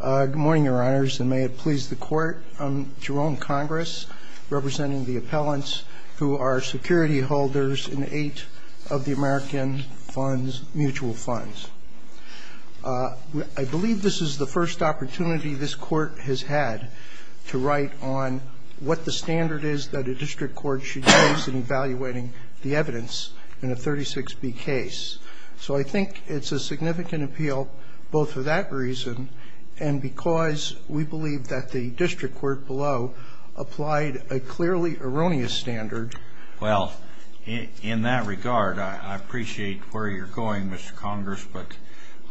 Good morning, your honors, and may it please the court. I'm Jerome Congress, representing the appellants who are security holders in eight of the American mutual funds. I believe this is the first opportunity this court has had to write on what the standard is that a district court should use in evaluating the evidence in a 36B case. So I think it's a significant appeal both for that reason and because we believe that the district court below applied a clearly erroneous standard. Well, in that regard, I appreciate where you're going, Mr. Congress, but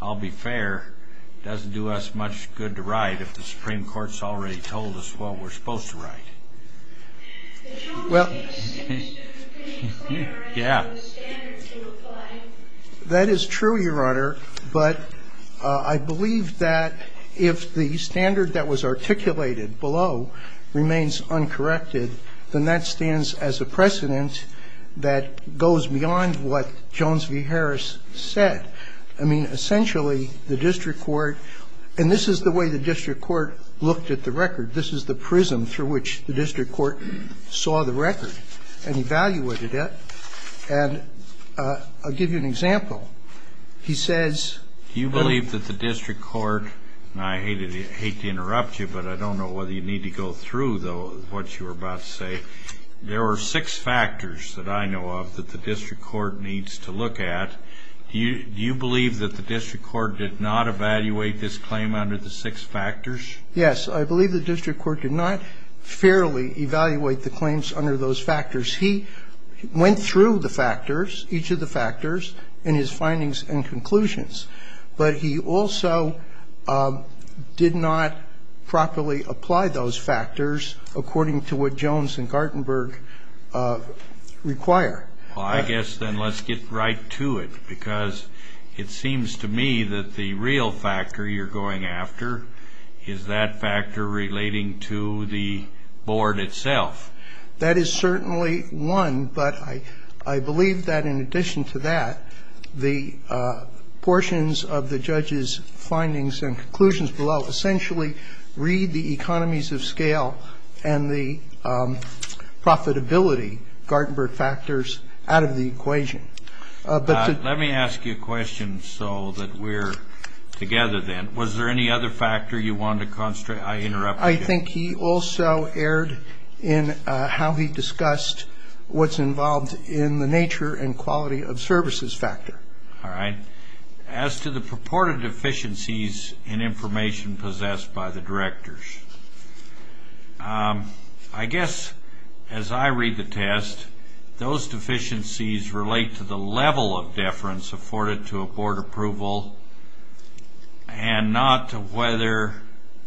I'll be fair, it doesn't do us much good to write if the Supreme Court's already told us what we're supposed to write. Well, that is true, your honor, but I believe that if the standard that was articulated below remains uncorrected, then that stands as a precedent that goes beyond what Jones v. Harris said. I mean, essentially, the district court, and this is the way the district court looked at the record. This is the prism through which the district court saw the record and evaluated it. And I'll give you an example. He says, Do you believe that the district court, and I hate to interrupt you, but I don't know whether you need to go through, though, what you were about to say. There are six factors that I know of that the district court needs to look at. Do you believe that the district court did not evaluate this claim under the six factors? Yes. I believe the district court did not fairly evaluate the claims under those factors. He went through the factors, each of the factors, and his findings and conclusions. But he also did not properly apply those factors according to what Jones and Gartenberg require. Well, I guess then let's get right to it, because it seems to me that the real factor you're going after is that factor relating to the board itself. That is certainly one, but I believe that in addition to that, the portions of the judge's findings and conclusions below essentially read the economies of scale and the profitability, Gartenberg factors, out of the equation. Let me ask you a question so that we're together then. Was there any other factor you wanted to constrain? I interrupted you. I think he also erred in how he discussed what's involved in the nature and quality of services factor. All right. As to the purported deficiencies in information possessed by the directors, I guess as I read the test, those deficiencies relate to the level of deference afforded to a board approval and not to whether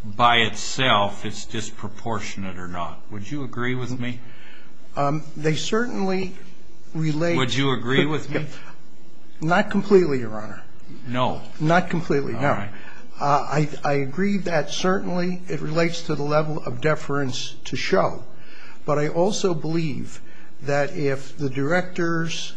by itself it's disproportionate or not. Would you agree with me? They certainly relate. Would you agree with me? Not completely, Your Honor. No. Not completely, no. All right. I agree that certainly it relates to the level of deference to show. But I also believe that if the directors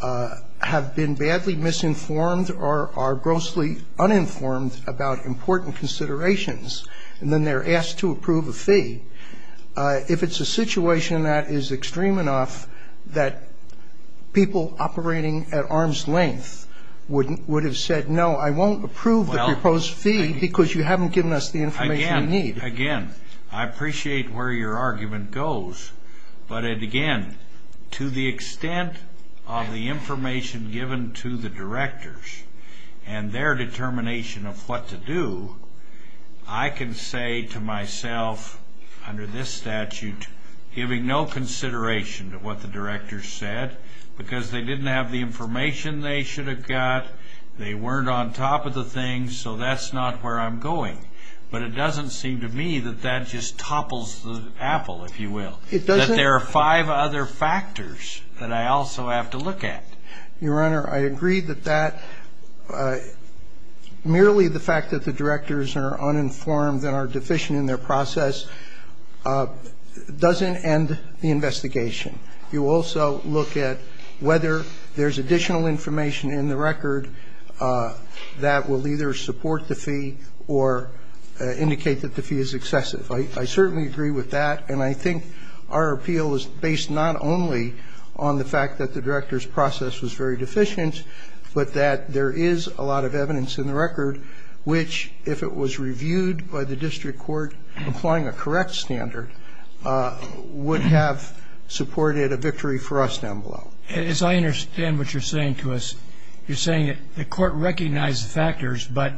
have been badly misinformed or are grossly uninformed about important considerations, and then they're asked to approve a fee, if it's a situation that is extreme enough that people operating at arm's length would have said, no, I won't approve the proposed fee because you haven't given us the information we need. Again, I appreciate where your argument goes. But again, to the extent of the information given to the directors and their determination of what to do, I can say to myself under this statute, giving no consideration to what the directors said, because they didn't have the information they should have got, they weren't on top of the thing, so that's not where I'm going. But it doesn't seem to me that that just topples the apple, if you will, that there are five other factors that I also have to look at. Your Honor, I agree that that merely the fact that the directors are uninformed and are deficient in their process doesn't end the investigation. You also look at whether there's additional information in the record that will either support the fee or indicate that the fee is excessive. I certainly agree with that, and I think our appeal is based not only on the fact that the directors' process was very deficient, but that there is a lot of evidence in the record which, if it was reviewed by the district court applying a correct standard, would have supported a victory for us down below. As I understand what you're saying to us, you're saying that the court recognized the factors, but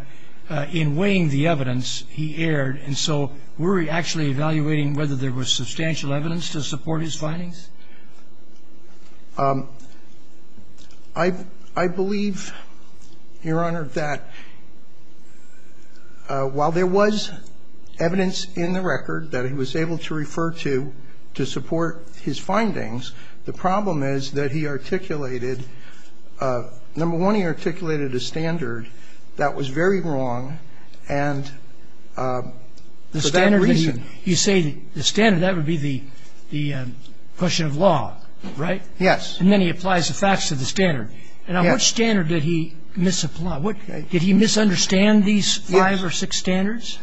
in weighing the evidence, he erred. And so were we actually evaluating whether there was substantial evidence to support his findings? I believe, Your Honor, that while there was evidence in the record that he was able to refer to to support his findings, the problem is that he articulated, number one, he articulated a standard that was very wrong, and for that reason you say the standard, that would be the question of law, right? Yes. And then he applies the facts to the standard. And on what standard did he misapply? Did he misunderstand these five or six standards,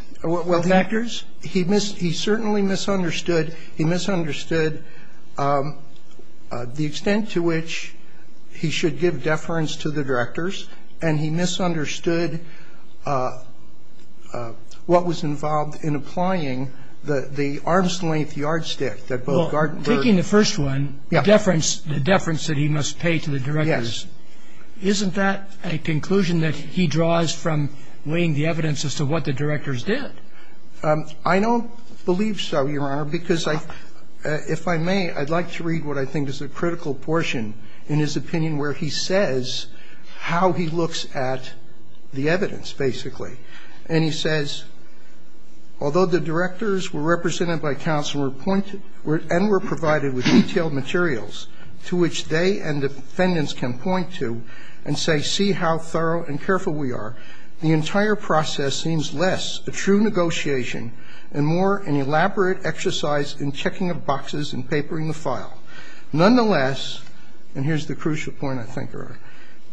factors? Well, he certainly misunderstood. He misunderstood the extent to which he should give deference to the directors, and he misunderstood what was involved in applying the arm's-length yardstick that both Gartenberg and the other directors had. Well, taking the first one, deference, the deference that he must pay to the directors, isn't that a conclusion that he draws from weighing the evidence as to what the directors did? I don't believe so, Your Honor, because if I may, I'd like to read what I think is a critical portion in his opinion where he says how he looks at the evidence, basically. And he says, although the directors were represented by counsel and were provided with detailed materials to which they and the defendants can point to and say, see how thorough and careful we are, the entire process seems less a true negotiation and more an elaborate exercise in checking up boxes and papering the file. Nonetheless, and here's the crucial point, I think, Your Honor,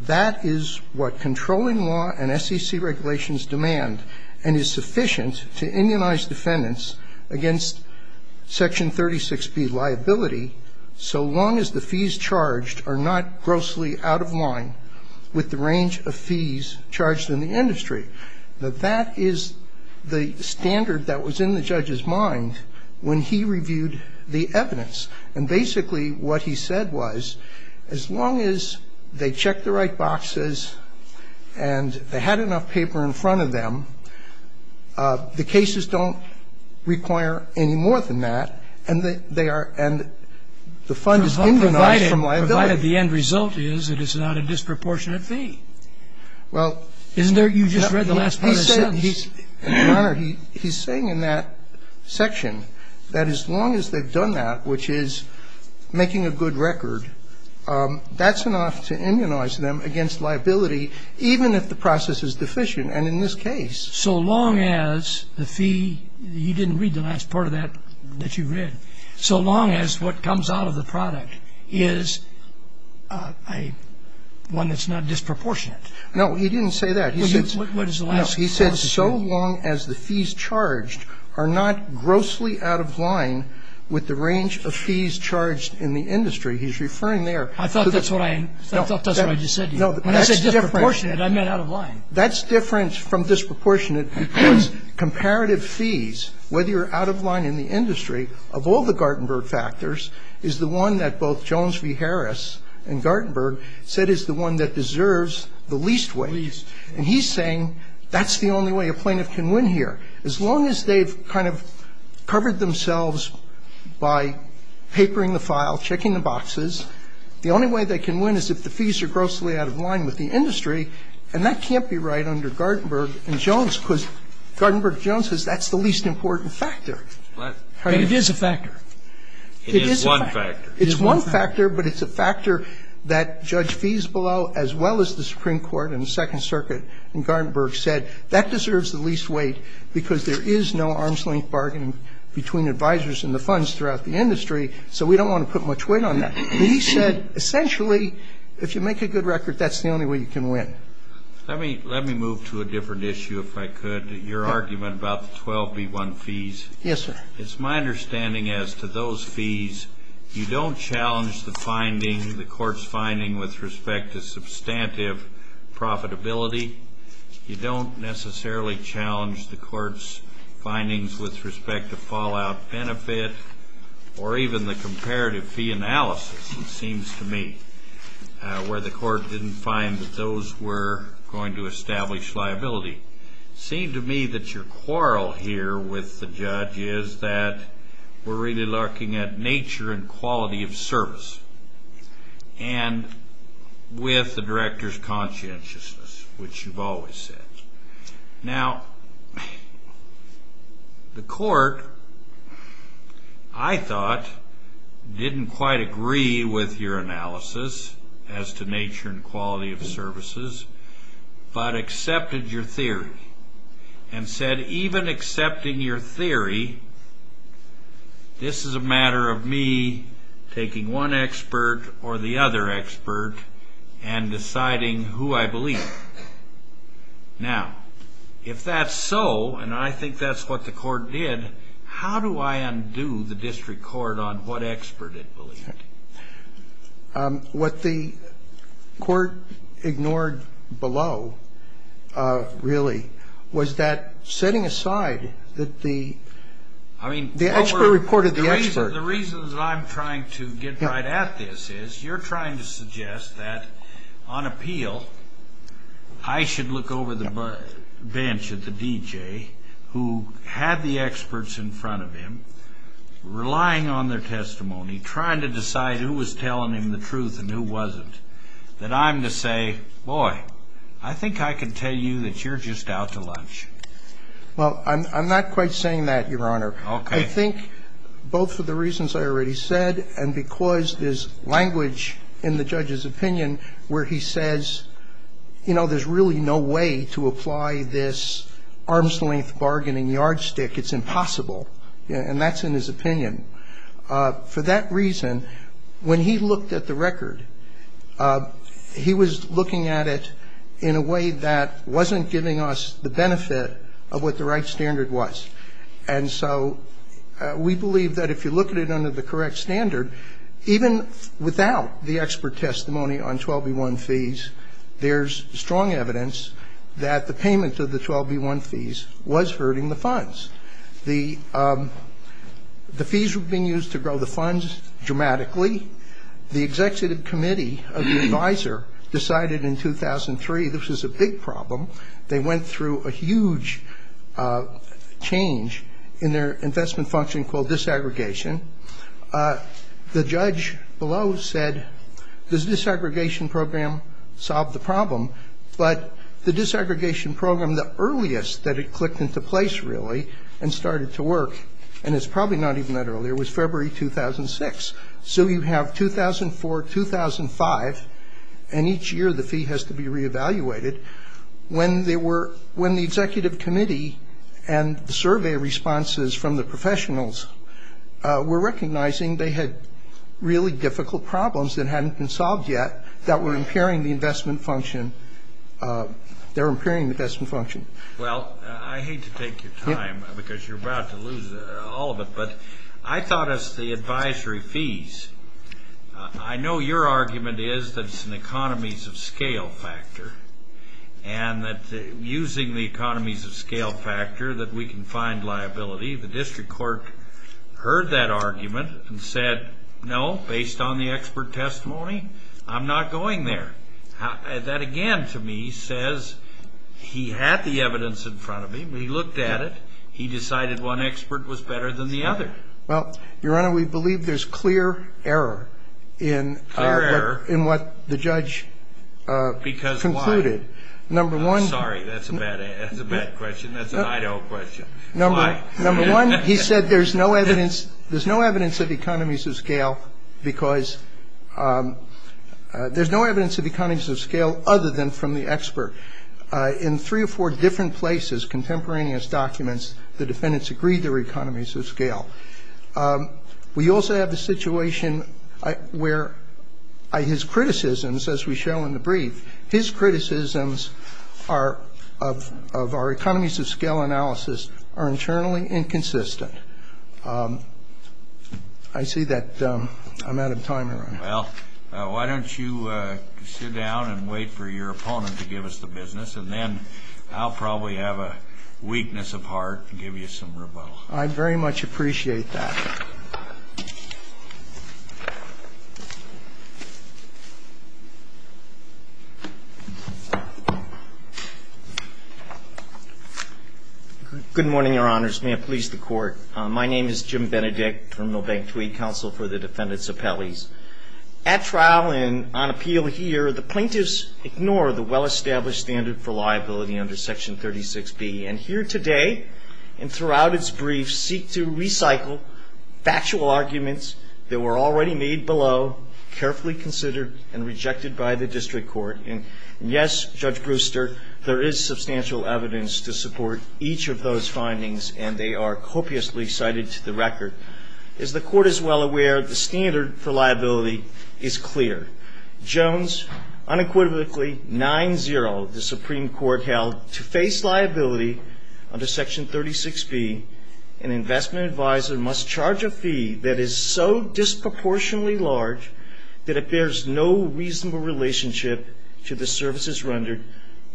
that is what controlling law and SEC regulations demand and is sufficient to immunize defendants against Section 36B liability so long as the fees charged are not grossly out of line with the range of fees charged in the industry. Now, that is the standard that was in the judge's mind when he reviewed the evidence. And basically what he said was as long as they checked the right boxes and they had enough paper in front of them, the cases don't require any more than that and they are – and the fund is immunized from liability. Provided the end result is that it's not a disproportionate fee. Well, he said, Your Honor, he's saying in that section that as long as they've done that, which is making a good record, that's enough to immunize them against liability, even if the process is deficient, and in this case. So long as the fee – you didn't read the last part of that that you read. So long as what comes out of the product is one that's not disproportionate. No, he didn't say that. What does the last part say? So long as the fees charged are not grossly out of line with the range of fees charged in the industry. He's referring there. I thought that's what I just said to you. When I said disproportionate, I meant out of line. That's different from disproportionate because comparative fees, whether you're out of line in the industry, of all the Gartenberg factors, is the one that both Jones v. Harris and Gartenberg said is the one that deserves the least wage. And he's saying that's the only way a plaintiff can win here. As long as they've kind of covered themselves by papering the file, checking the boxes, the only way they can win is if the fees are grossly out of line with the industry, and that can't be right under Gartenberg and Jones because Gartenberg and Jones says that's the least important factor. But it is a factor. It is one factor. It is one factor, but it's a factor that Judge Feesbelow as well as the Supreme Court and the Second Circuit and Gartenberg said that deserves the least weight because there is no arm's-length bargaining between advisors and the funds throughout the industry, so we don't want to put much weight on that. But he said essentially if you make a good record, that's the only way you can win. Let me move to a different issue, if I could, your argument about the 12B1 fees. Yes, sir. It's my understanding as to those fees, you don't challenge the finding, the court's finding with respect to substantive profitability. You don't necessarily challenge the court's findings with respect to fallout benefit or even the comparative fee analysis, it seems to me, where the court didn't find that those were going to establish liability. It seems to me that your quarrel here with the judge is that we're really looking at nature and quality of service and with the director's conscientiousness, which you've always said. Now, the court, I thought, didn't quite agree with your analysis as to nature and quality of services, but accepted your theory and said even accepting your theory, this is a matter of me taking one expert or the other expert and deciding who I believe. Now, if that's so, and I think that's what the court did, how do I undo the district court on what expert it believed? I understand your disagreement. What the court ignored below really was that setting aside that the expert reported The reasons I'm trying to get right at this is you're trying to suggest that on appeal I should look over the bench at the DJ who had the experts in front of him, relying on their testimony, trying to decide who was telling him the truth and who wasn't that I'm to say, boy, I think I can tell you that you're just out to lunch. Well, I'm not quite saying that, Your Honor. I think both for the reasons I already said and because there's language in the judge's opinion where he says you know, there's really no way to apply this arm's length bargaining yardstick. It's impossible. And that's in his opinion. For that reason, when he looked at the record, he was looking at it in a way that wasn't giving us the benefit of what the right standard was. And so we believe that if you look at it under the correct standard, even without the expert testimony on 12b-1 fees, there's strong evidence that the payment of the 12b-1 fees was hurting the funds. The fees were being used to grow the funds dramatically. The executive committee of the advisor decided in 2003 this was a big problem. They went through a huge change in their investment function called disaggregation. The judge below said this disaggregation program solved the problem, but the disaggregation program, the earliest that it clicked into place really and started to work, and it's probably not even that early, it was February 2006. So you have 2004, 2005, and each year the fee has to be re-evaluated. When the executive committee and the survey responses from the professionals were recognizing they had really difficult problems that hadn't been solved yet that were impairing the investment function, they were impairing the investment function. Well, I hate to take your time because you're about to lose all of it, but I thought as the advisory fees, I know your argument is that it's an economies of scale factor and that using the economies of scale factor that we can find liability. The district court heard that argument and said, no, based on the expert testimony, I'm not going there. That again to me says he had the evidence in front of him. He looked at it. He decided one expert was better than the other. Well, Your Honor, we believe there's clear error in what the judge concluded. Because why? Number one. Sorry, that's a bad question. That's an idle question. Number one, he said there's no evidence of economies of scale because there's no evidence of economies of scale other than from the expert. In three or four different places, contemporaneous documents, the defendants agreed they were economies of scale. We also have a situation where his criticisms, as we show in the brief, his criticisms of our economies of scale analysis are internally inconsistent. I see that I'm out of time, Your Honor. Well, why don't you sit down and wait for your opponent to give us the business, and then I'll probably have a weakness of heart and give you some rebuttal. I very much appreciate that. Good morning, Your Honors. May it please the Court. My name is Jim Benedict, Terminal Bank Tweed Counsel for the defendants' appellees. At trial and on appeal here, the plaintiffs ignore the well-established standard for liability under Section 36B, and here today and throughout its brief seek to recycle factual arguments that were already made below, carefully considered, and rejected by the district court. And, yes, Judge Brewster, there is substantial evidence to support each of those findings, and they are copiously cited to the record. As the Court is well aware, the standard for liability is clear. Jones, unequivocally, 9-0, the Supreme Court held to face liability under Section 36B, an investment advisor must charge a fee that is so disproportionately large that it bears no reasonable relationship to the services rendered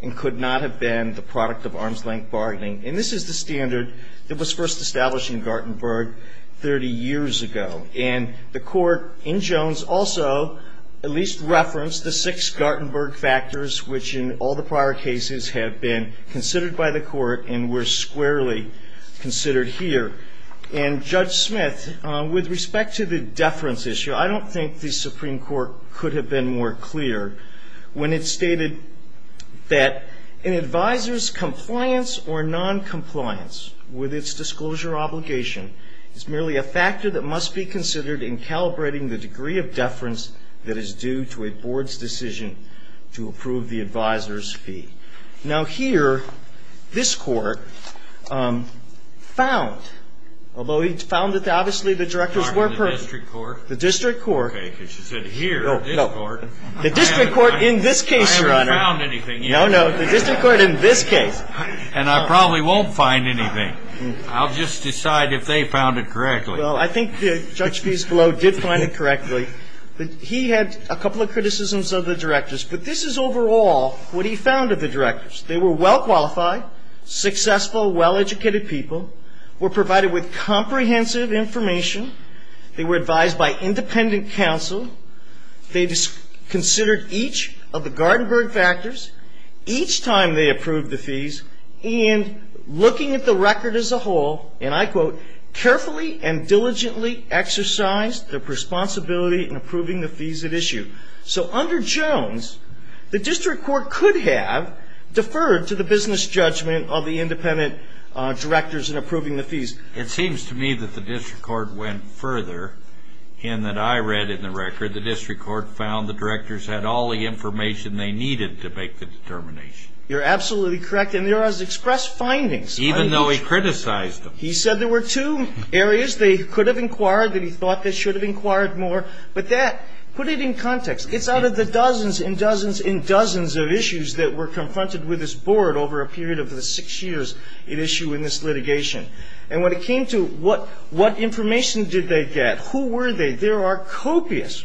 and could not have been the product of arm's-length bargaining. And this is the standard that was first established in Gartenberg 30 years ago. And the Court in Jones also at least referenced the six Gartenberg factors, which in all the prior cases have been considered by the Court and were squarely considered here. And, Judge Smith, with respect to the deference issue, I don't think the Supreme Court could have been more clear when it stated that an advisor's compliance or noncompliance with its disclosure obligation is merely a factor that must be considered in calibrating the degree of deference that is due to a board's decision to approve the advisor's fee. Now, here, this Court found, although it found that obviously the directors were perfect. The district court. The district court. Okay, because she said here, this Court. The district court in this case, Your Honor. I haven't found anything yet. No, no. The district court in this case. And I probably won't find anything. I'll just decide if they found it correctly. Well, I think Judge Fieselow did find it correctly. He had a couple of criticisms of the directors. But this is overall what he found of the directors. They were well-qualified, successful, well-educated people, were provided with comprehensive information. They were advised by independent counsel. They considered each of the Gartenberg factors each time they approved the fees, and looking at the record as a whole, and I quote, carefully and diligently exercised their responsibility in approving the fees at issue. So under Jones, the district court could have deferred to the business judgment It seems to me that the district court went further than that I read in the record. The district court found the directors had all the information they needed to make the determination. You're absolutely correct. And there was expressed findings. Even though he criticized them. He said there were two areas they could have inquired that he thought they should have inquired more. But that, put it in context. It's out of the dozens and dozens and dozens of issues that were confronted with this board over a period of the six years at issue in this litigation. And when it came to what information did they get, who were they, there are copious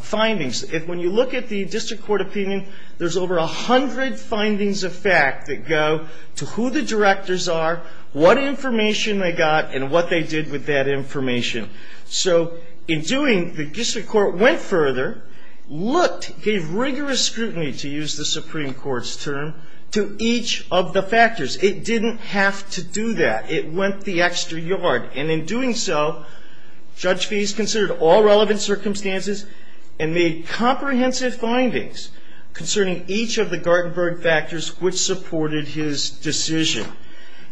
findings. When you look at the district court opinion, there's over 100 findings of fact that go to who the directors are, what information they got, and what they did with that information. So in doing, the district court went further, looked, gave rigorous scrutiny, to use the Supreme Court's term, to each of the factors. It didn't have to do that. It went the extra yard. And in doing so, Judge Fees considered all relevant circumstances and made comprehensive findings concerning each of the Gartenberg factors which supported his decision.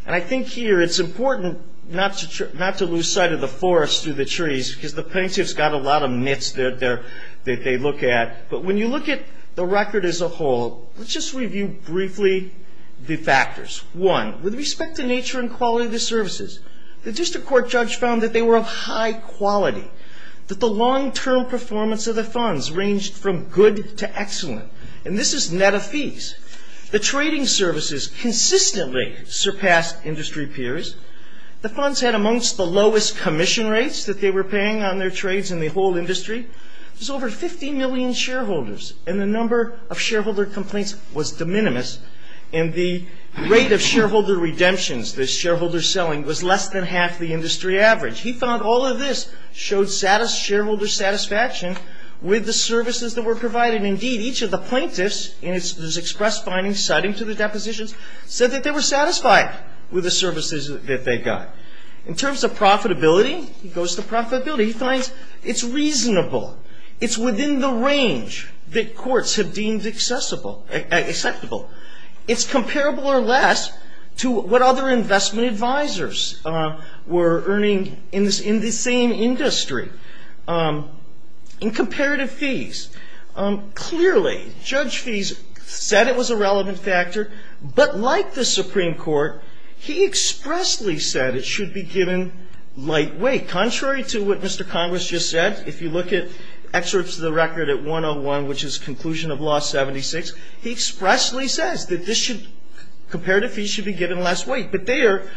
And I think here it's important not to lose sight of the forest through the trees because the plaintiffs got a lot of myths that they look at. But when you look at the record as a whole, let's just review briefly the factors. One, with respect to nature and quality of the services, the district court judge found that they were of high quality, that the long-term performance of the funds ranged from good to excellent. And this is net of fees. The trading services consistently surpassed industry peers. The funds had amongst the lowest commission rates that they were paying on their trades in the whole industry. There's over 15 million shareholders. And the number of shareholder complaints was de minimis. And the rate of shareholder redemptions, the shareholder selling, was less than half the industry average. He found all of this showed shareholder satisfaction with the services that were provided. Indeed, each of the plaintiffs in his express findings citing to the depositions said that they were satisfied with the services that they got. In terms of profitability, he goes to profitability. He finds it's reasonable. It's within the range that courts have deemed acceptable. It's comparable or less to what other investment advisors were earning in the same industry. In comparative fees, clearly, Judge Fees said it was a relevant factor. But like the Supreme Court, he expressly said it should be given light weight, contrary to what Mr. Congress just said. If you look at excerpts of the record at 101, which is conclusion of Law 76, he expressly says that this should, comparative fees should be given less weight. But there,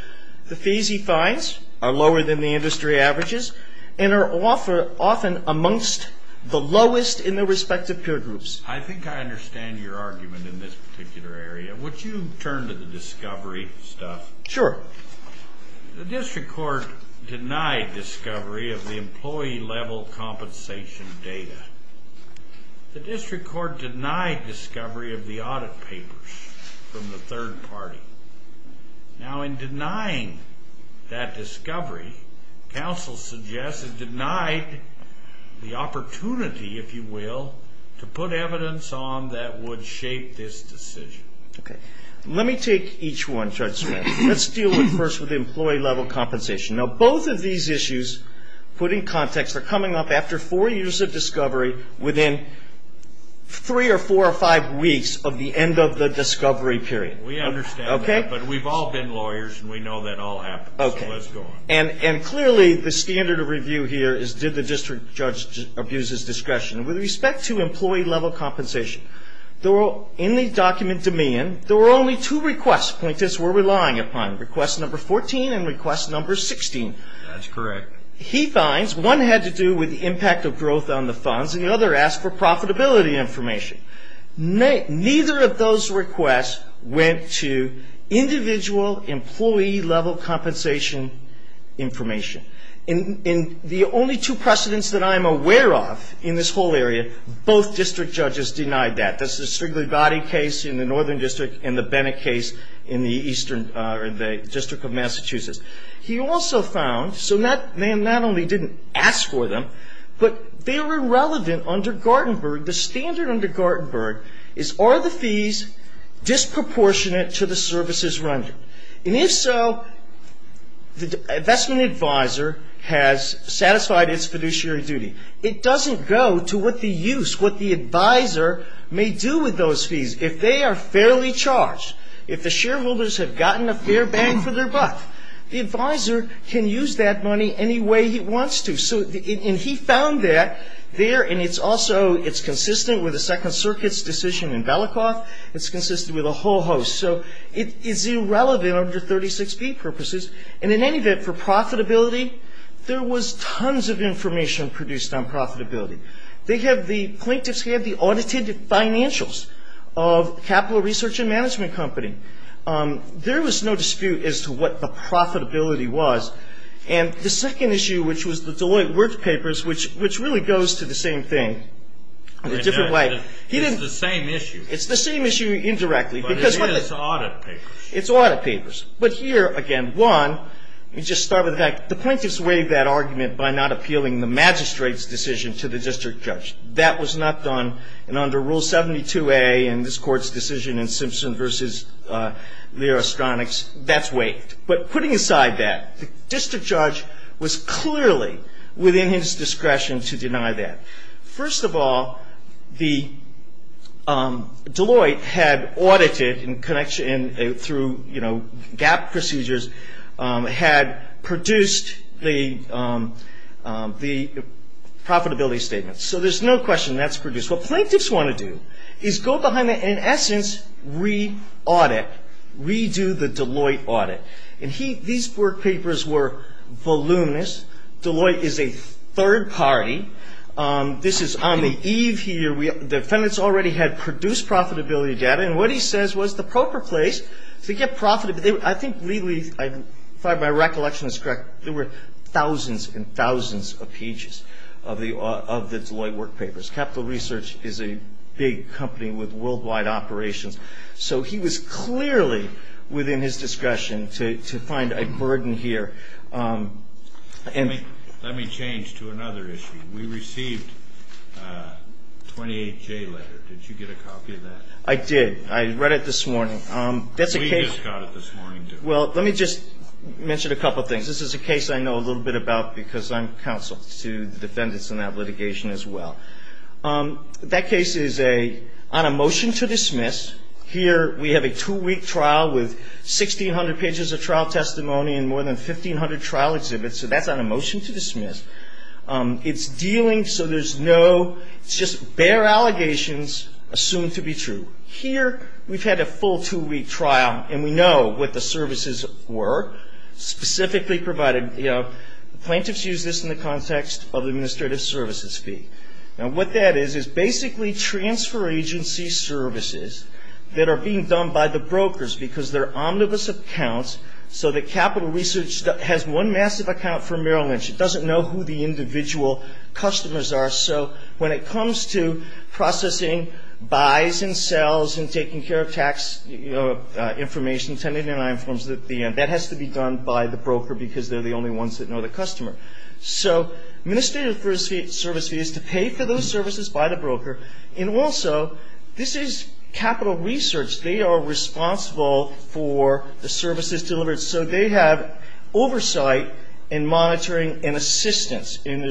the fees he finds are lower than the industry averages and are often amongst the lowest in their respective peer groups. I think I understand your argument in this particular area. Would you turn to the discovery stuff? Sure. The district court denied discovery of the employee level compensation data. The district court denied discovery of the audit papers from the third party. Now, in denying that discovery, counsel suggests it denied the opportunity, if you will, to put evidence on that would shape this decision. Okay. Let me take each one, Judge Smith. Okay. Let's deal first with employee level compensation. Now, both of these issues, put in context, are coming up after four years of discovery, within three or four or five weeks of the end of the discovery period. We understand that. Okay? But we've all been lawyers, and we know that all happens. Okay. So let's go on. And clearly, the standard of review here is did the district judge abuse his discretion? With respect to employee level compensation, in the document to me, there were only two requests. Point is, we're relying upon request number 14 and request number 16. That's correct. He finds one had to do with the impact of growth on the funds, and the other asked for profitability information. Neither of those requests went to individual employee level compensation information. And the only two precedents that I'm aware of in this whole area, both district judges denied that. That's the Strigley-Body case in the Northern District, and the Bennett case in the District of Massachusetts. He also found, so not only did he not ask for them, but they were irrelevant under Gartenberg. The standard under Gartenberg is are the fees disproportionate to the services rendered? And if so, the investment advisor has satisfied its fiduciary duty. It doesn't go to what the use, what the advisor may do with those fees. If they are fairly charged, if the shareholders have gotten a fair bang for their buck, the advisor can use that money any way he wants to. And he found that there, and it's also, it's consistent with the Second Circuit's decision in Belicoff. It's consistent with a whole host. So it is irrelevant under 36B purposes. And in any event, for profitability, there was tons of information produced on profitability. They have the plaintiffs, they have the audited financials of Capital Research and Management Company. There was no dispute as to what the profitability was. And the second issue, which was the Deloitte Works Papers, which really goes to the same thing, a different way. It's the same issue. It's the same issue indirectly. But it is audit papers. It's audit papers. But here, again, one, let me just start with the fact, the plaintiffs waived that argument by not appealing the magistrate's decision to the district judge. That was not done. And under Rule 72a in this Court's decision in Simpson v. Leo Astronix, that's waived. But putting aside that, the district judge was clearly within his discretion to deny that. First of all, Deloitte had audited through GAAP procedures, had produced the profitability statements. So there's no question that's produced. What plaintiffs want to do is go behind that and, in essence, re-audit, redo the Deloitte audit. And these work papers were voluminous. Deloitte is a third party. This is on the eve here. The defendants already had produced profitability data. And what he says was the proper place to get profit. I think legally, if my recollection is correct, there were thousands and thousands of pages of the Deloitte work papers. Capital Research is a big company with worldwide operations. So he was clearly within his discretion to find a burden here. Let me change to another issue. We received a 28J letter. Did you get a copy of that? I did. I read it this morning. We just got it this morning, too. Well, let me just mention a couple things. This is a case I know a little bit about because I'm counsel to the defendants in that litigation as well. That case is on a motion to dismiss. Here we have a two-week trial with 1,600 pages of trial testimony and more than 1,500 trial exhibits. So that's on a motion to dismiss. It's dealing so there's no just bare allegations assumed to be true. Here we've had a full two-week trial, and we know what the services were, specifically provided. Plaintiffs use this in the context of administrative services fee. What that is is basically transfer agency services that are being done by the brokers because they're omnibus accounts so that Capital Research has one massive account for Merrill Lynch. It doesn't know who the individual customers are. So when it comes to processing buys and sells and taking care of tax information, that has to be done by the broker because they're the only ones that know the customer. So administrative service fee is to pay for those services by the broker. And also, this is Capital Research. They are responsible for the services delivered. So they have oversight and monitoring and assistance. And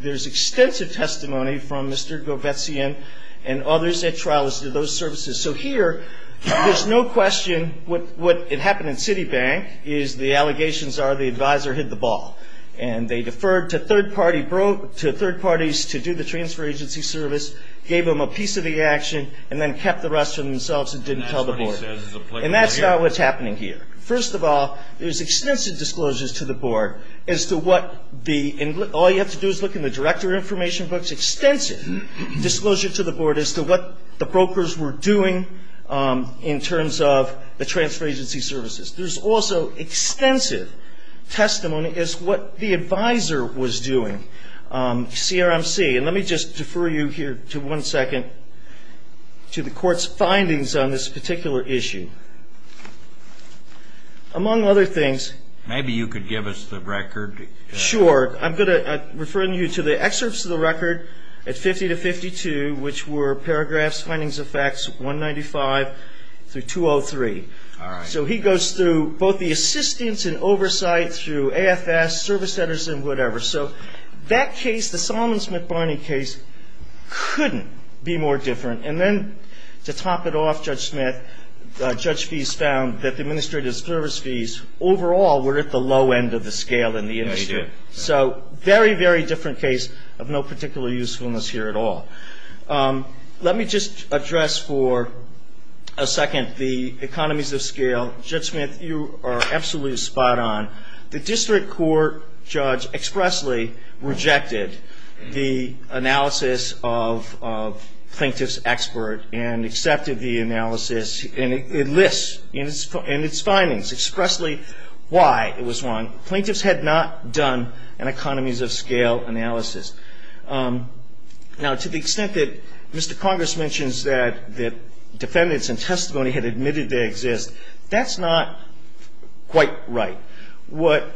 there's extensive testimony from Mr. Govetsian and others at trial as to those services. So here, there's no question what happened in Citibank is the allegations are the advisor hit the ball. And they deferred to third parties to do the transfer agency service, gave them a piece of the action, and then kept the rest to themselves and didn't tell the board. And that's not what's happening here. First of all, there's extensive disclosures to the board as to what the – all you have to do is look in the director information books, There's extensive disclosure to the board as to what the brokers were doing in terms of the transfer agency services. There's also extensive testimony as to what the advisor was doing, CRMC. And let me just defer you here to one second to the Court's findings on this particular issue. Among other things – Maybe you could give us the record. Sure. I'm going to refer you to the excerpts of the record at 50 to 52, which were paragraphs findings of facts 195 through 203. All right. So he goes through both the assistance and oversight through AFS, service centers, and whatever. So that case, the Solomons-McBarney case, couldn't be more different. And then to top it off, Judge Smith, Judge Feist found that the administrative service fees overall were at the low end of the scale in the industry. So very, very different case of no particular usefulness here at all. Let me just address for a second the economies of scale. Judge Smith, you are absolutely spot on. The district court judge expressly rejected the analysis of plaintiff's expert and accepted the analysis. And it lists in its findings expressly why it was wrong. Plaintiffs had not done an economies of scale analysis. Now, to the extent that Mr. Congress mentions that defendants in testimony had admitted they exist, that's not quite right. What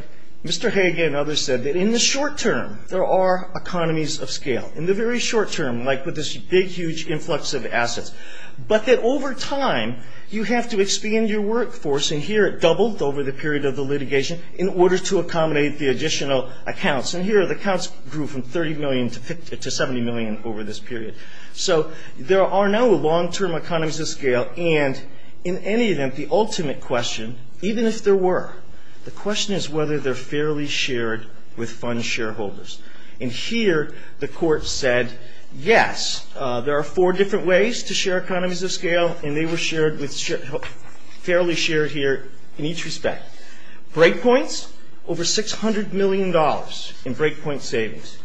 Mr. Hage and others said, that in the short term, there are economies of scale. In the very short term, like with this big, huge influx of assets. But that over time, you have to expand your workforce. And here it doubled over the period of the litigation in order to accommodate the additional accounts. And here the accounts grew from $30 million to $70 million over this period. So there are no long-term economies of scale. And in any event, the ultimate question, even if there were, the question is whether they're fairly shared with fund shareholders. And here the court said, yes. There are four different ways to share economies of scale, and they were shared with fairly shared here in each respect. Break points, over $600 million in break point savings.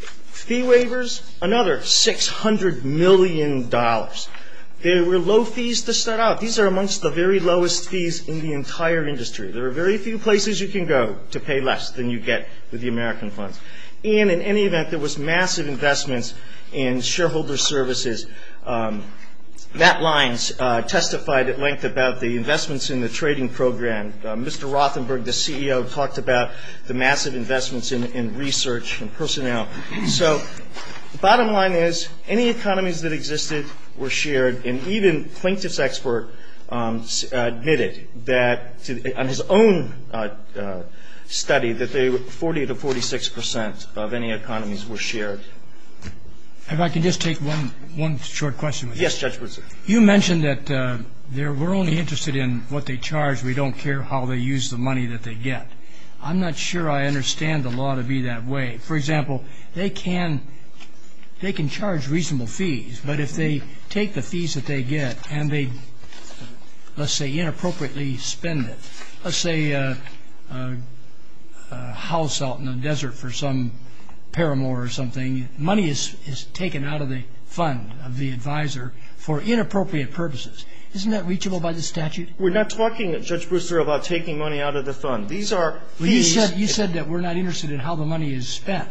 Fee waivers, another $600 million. They were low fees to start out. These are amongst the very lowest fees in the entire industry. There are very few places you can go to pay less than you get with the American funds. And in any event, there was massive investments in shareholder services. That line testified at length about the investments in the trading program. Mr. Rothenberg, the CEO, talked about the massive investments in research and personnel. So the bottom line is, any economies that existed were shared. And even Plinkett's expert admitted that, on his own study, that 40 to 46 percent of any economies were shared. If I can just take one short question with that. Yes, Judge Pruitt. You mentioned that we're only interested in what they charge. We don't care how they use the money that they get. I'm not sure I understand the law to be that way. For example, they can charge reasonable fees, but if they take the fees that they get and they, let's say, inappropriately spend it. Let's say a house out in the desert for some paramour or something, money is taken out of the fund of the advisor for inappropriate purposes. Isn't that reachable by the statute? We're not talking, Judge Brewster, about taking money out of the fund. These are fees. You said that we're not interested in how the money is spent.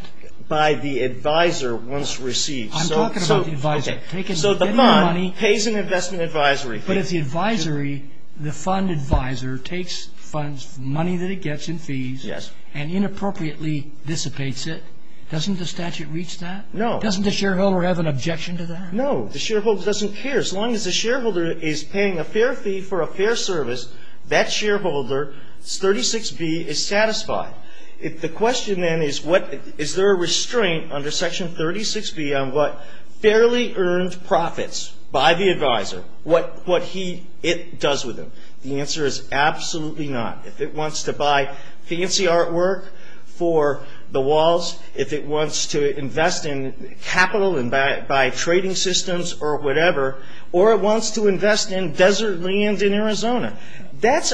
By the advisor once received. I'm talking about the advisor. So the fund pays an investment advisory fee. But if the advisory, the fund advisor, takes funds, money that it gets in fees. Yes. And inappropriately dissipates it, doesn't the statute reach that? No. Doesn't the shareholder have an objection to that? No. The shareholder doesn't care. As long as the shareholder is paying a fair fee for a fair service, that shareholder, 36B, is satisfied. The question then is what, is there a restraint under Section 36B on what fairly earned profits by the advisor, what he, it does with him. The answer is absolutely not. If it wants to buy fancy artwork for the walls, if it wants to invest in capital and buy trading systems or whatever, or it wants to invest in desert land in Arizona, that's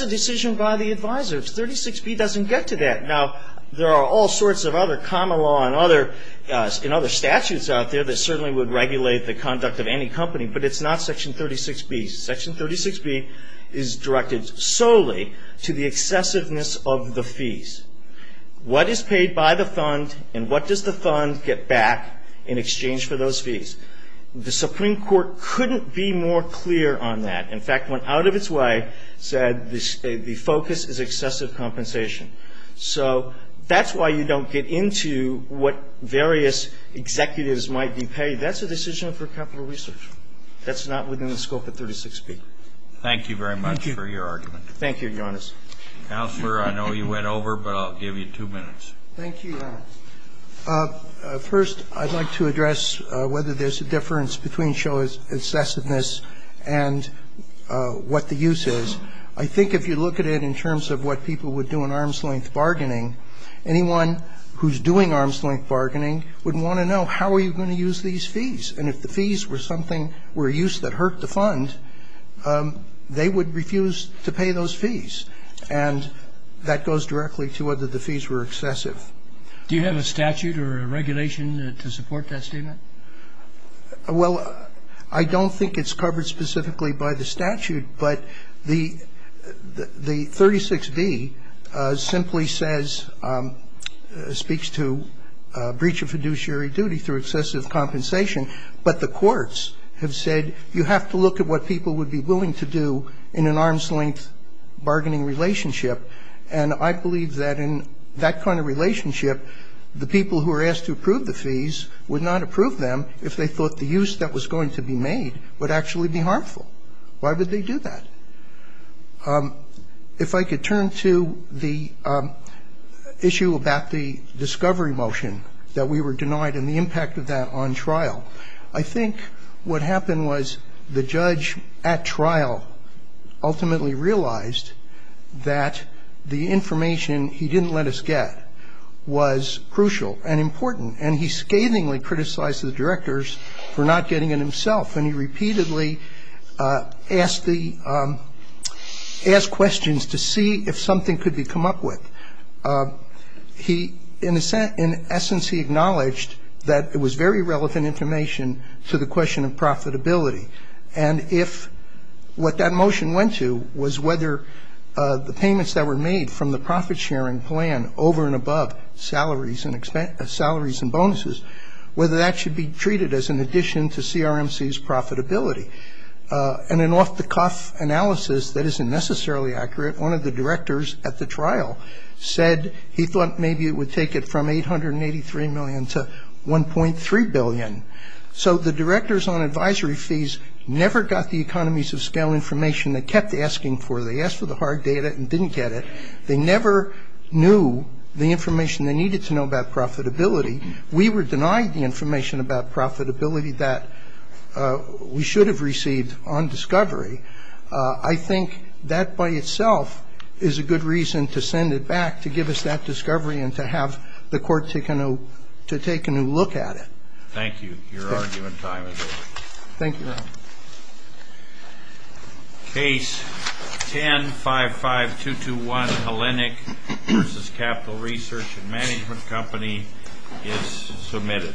a decision by the advisor. 36B doesn't get to that. Now, there are all sorts of other common law and other statutes out there that certainly would regulate the conduct of any company. But it's not Section 36B. Section 36B is directed solely to the excessiveness of the fees. What is paid by the fund and what does the fund get back in exchange for those fees? The Supreme Court couldn't be more clear on that. In fact, went out of its way, said the focus is excessive compensation. So that's why you don't get into what various executives might be paid. That's a decision for capital research. That's not within the scope of 36B. Thank you very much for your argument. Thank you, Your Honor. Counselor, I know you went over, but I'll give you two minutes. Thank you, Your Honor. First, I'd like to address whether there's a difference between show of excessiveness and what the use is. I think if you look at it in terms of what people would do in arm's-length bargaining, anyone who's doing arm's-length bargaining would want to know how are you going to use these fees. And if the fees were something, were a use that hurt the fund, they would refuse to pay those fees. And that goes directly to whether the fees were excessive. Do you have a statute or a regulation to support that statement? Well, I don't think it's covered specifically by the statute, but the 36B simply says, speaks to breach of fiduciary duty through excessive compensation. But the courts have said you have to look at what people would be willing to do in an arm's-length bargaining relationship. And I believe that in that kind of relationship, the people who are asked to approve the fees would not approve them if they thought the use that was going to be made would actually be harmful. Why would they do that? If I could turn to the issue about the discovery motion that we were denied and the impact of that on trial, I think what happened was the judge at trial ultimately realized that the information he didn't let us get was crucial and important. And he scathingly criticized the directors for not getting it himself. And he repeatedly asked questions to see if something could be come up with. In essence, he acknowledged that it was very relevant information to the question of profitability. And if what that motion went to was whether the payments that were made from the profit-sharing plan over and above salaries and bonuses, whether that should be treated as an addition to CRMC's profitability. And an off-the-cuff analysis that isn't necessarily accurate, one of the directors at the trial said he thought maybe it would take it from $883 million to $1.3 billion. So the directors on advisory fees never got the economies of scale information they kept asking for. They asked for the hard data and didn't get it. They never knew the information they needed to know about profitability. We were denied the information about profitability that we should have received on discovery. I think that by itself is a good reason to send it back, to give us that discovery and to have the court take a new look at it. Thank you. Your argument time is over. Thank you, Your Honor. Case 10-55221, Hellenic v. Capital Research and Management Company is submitted.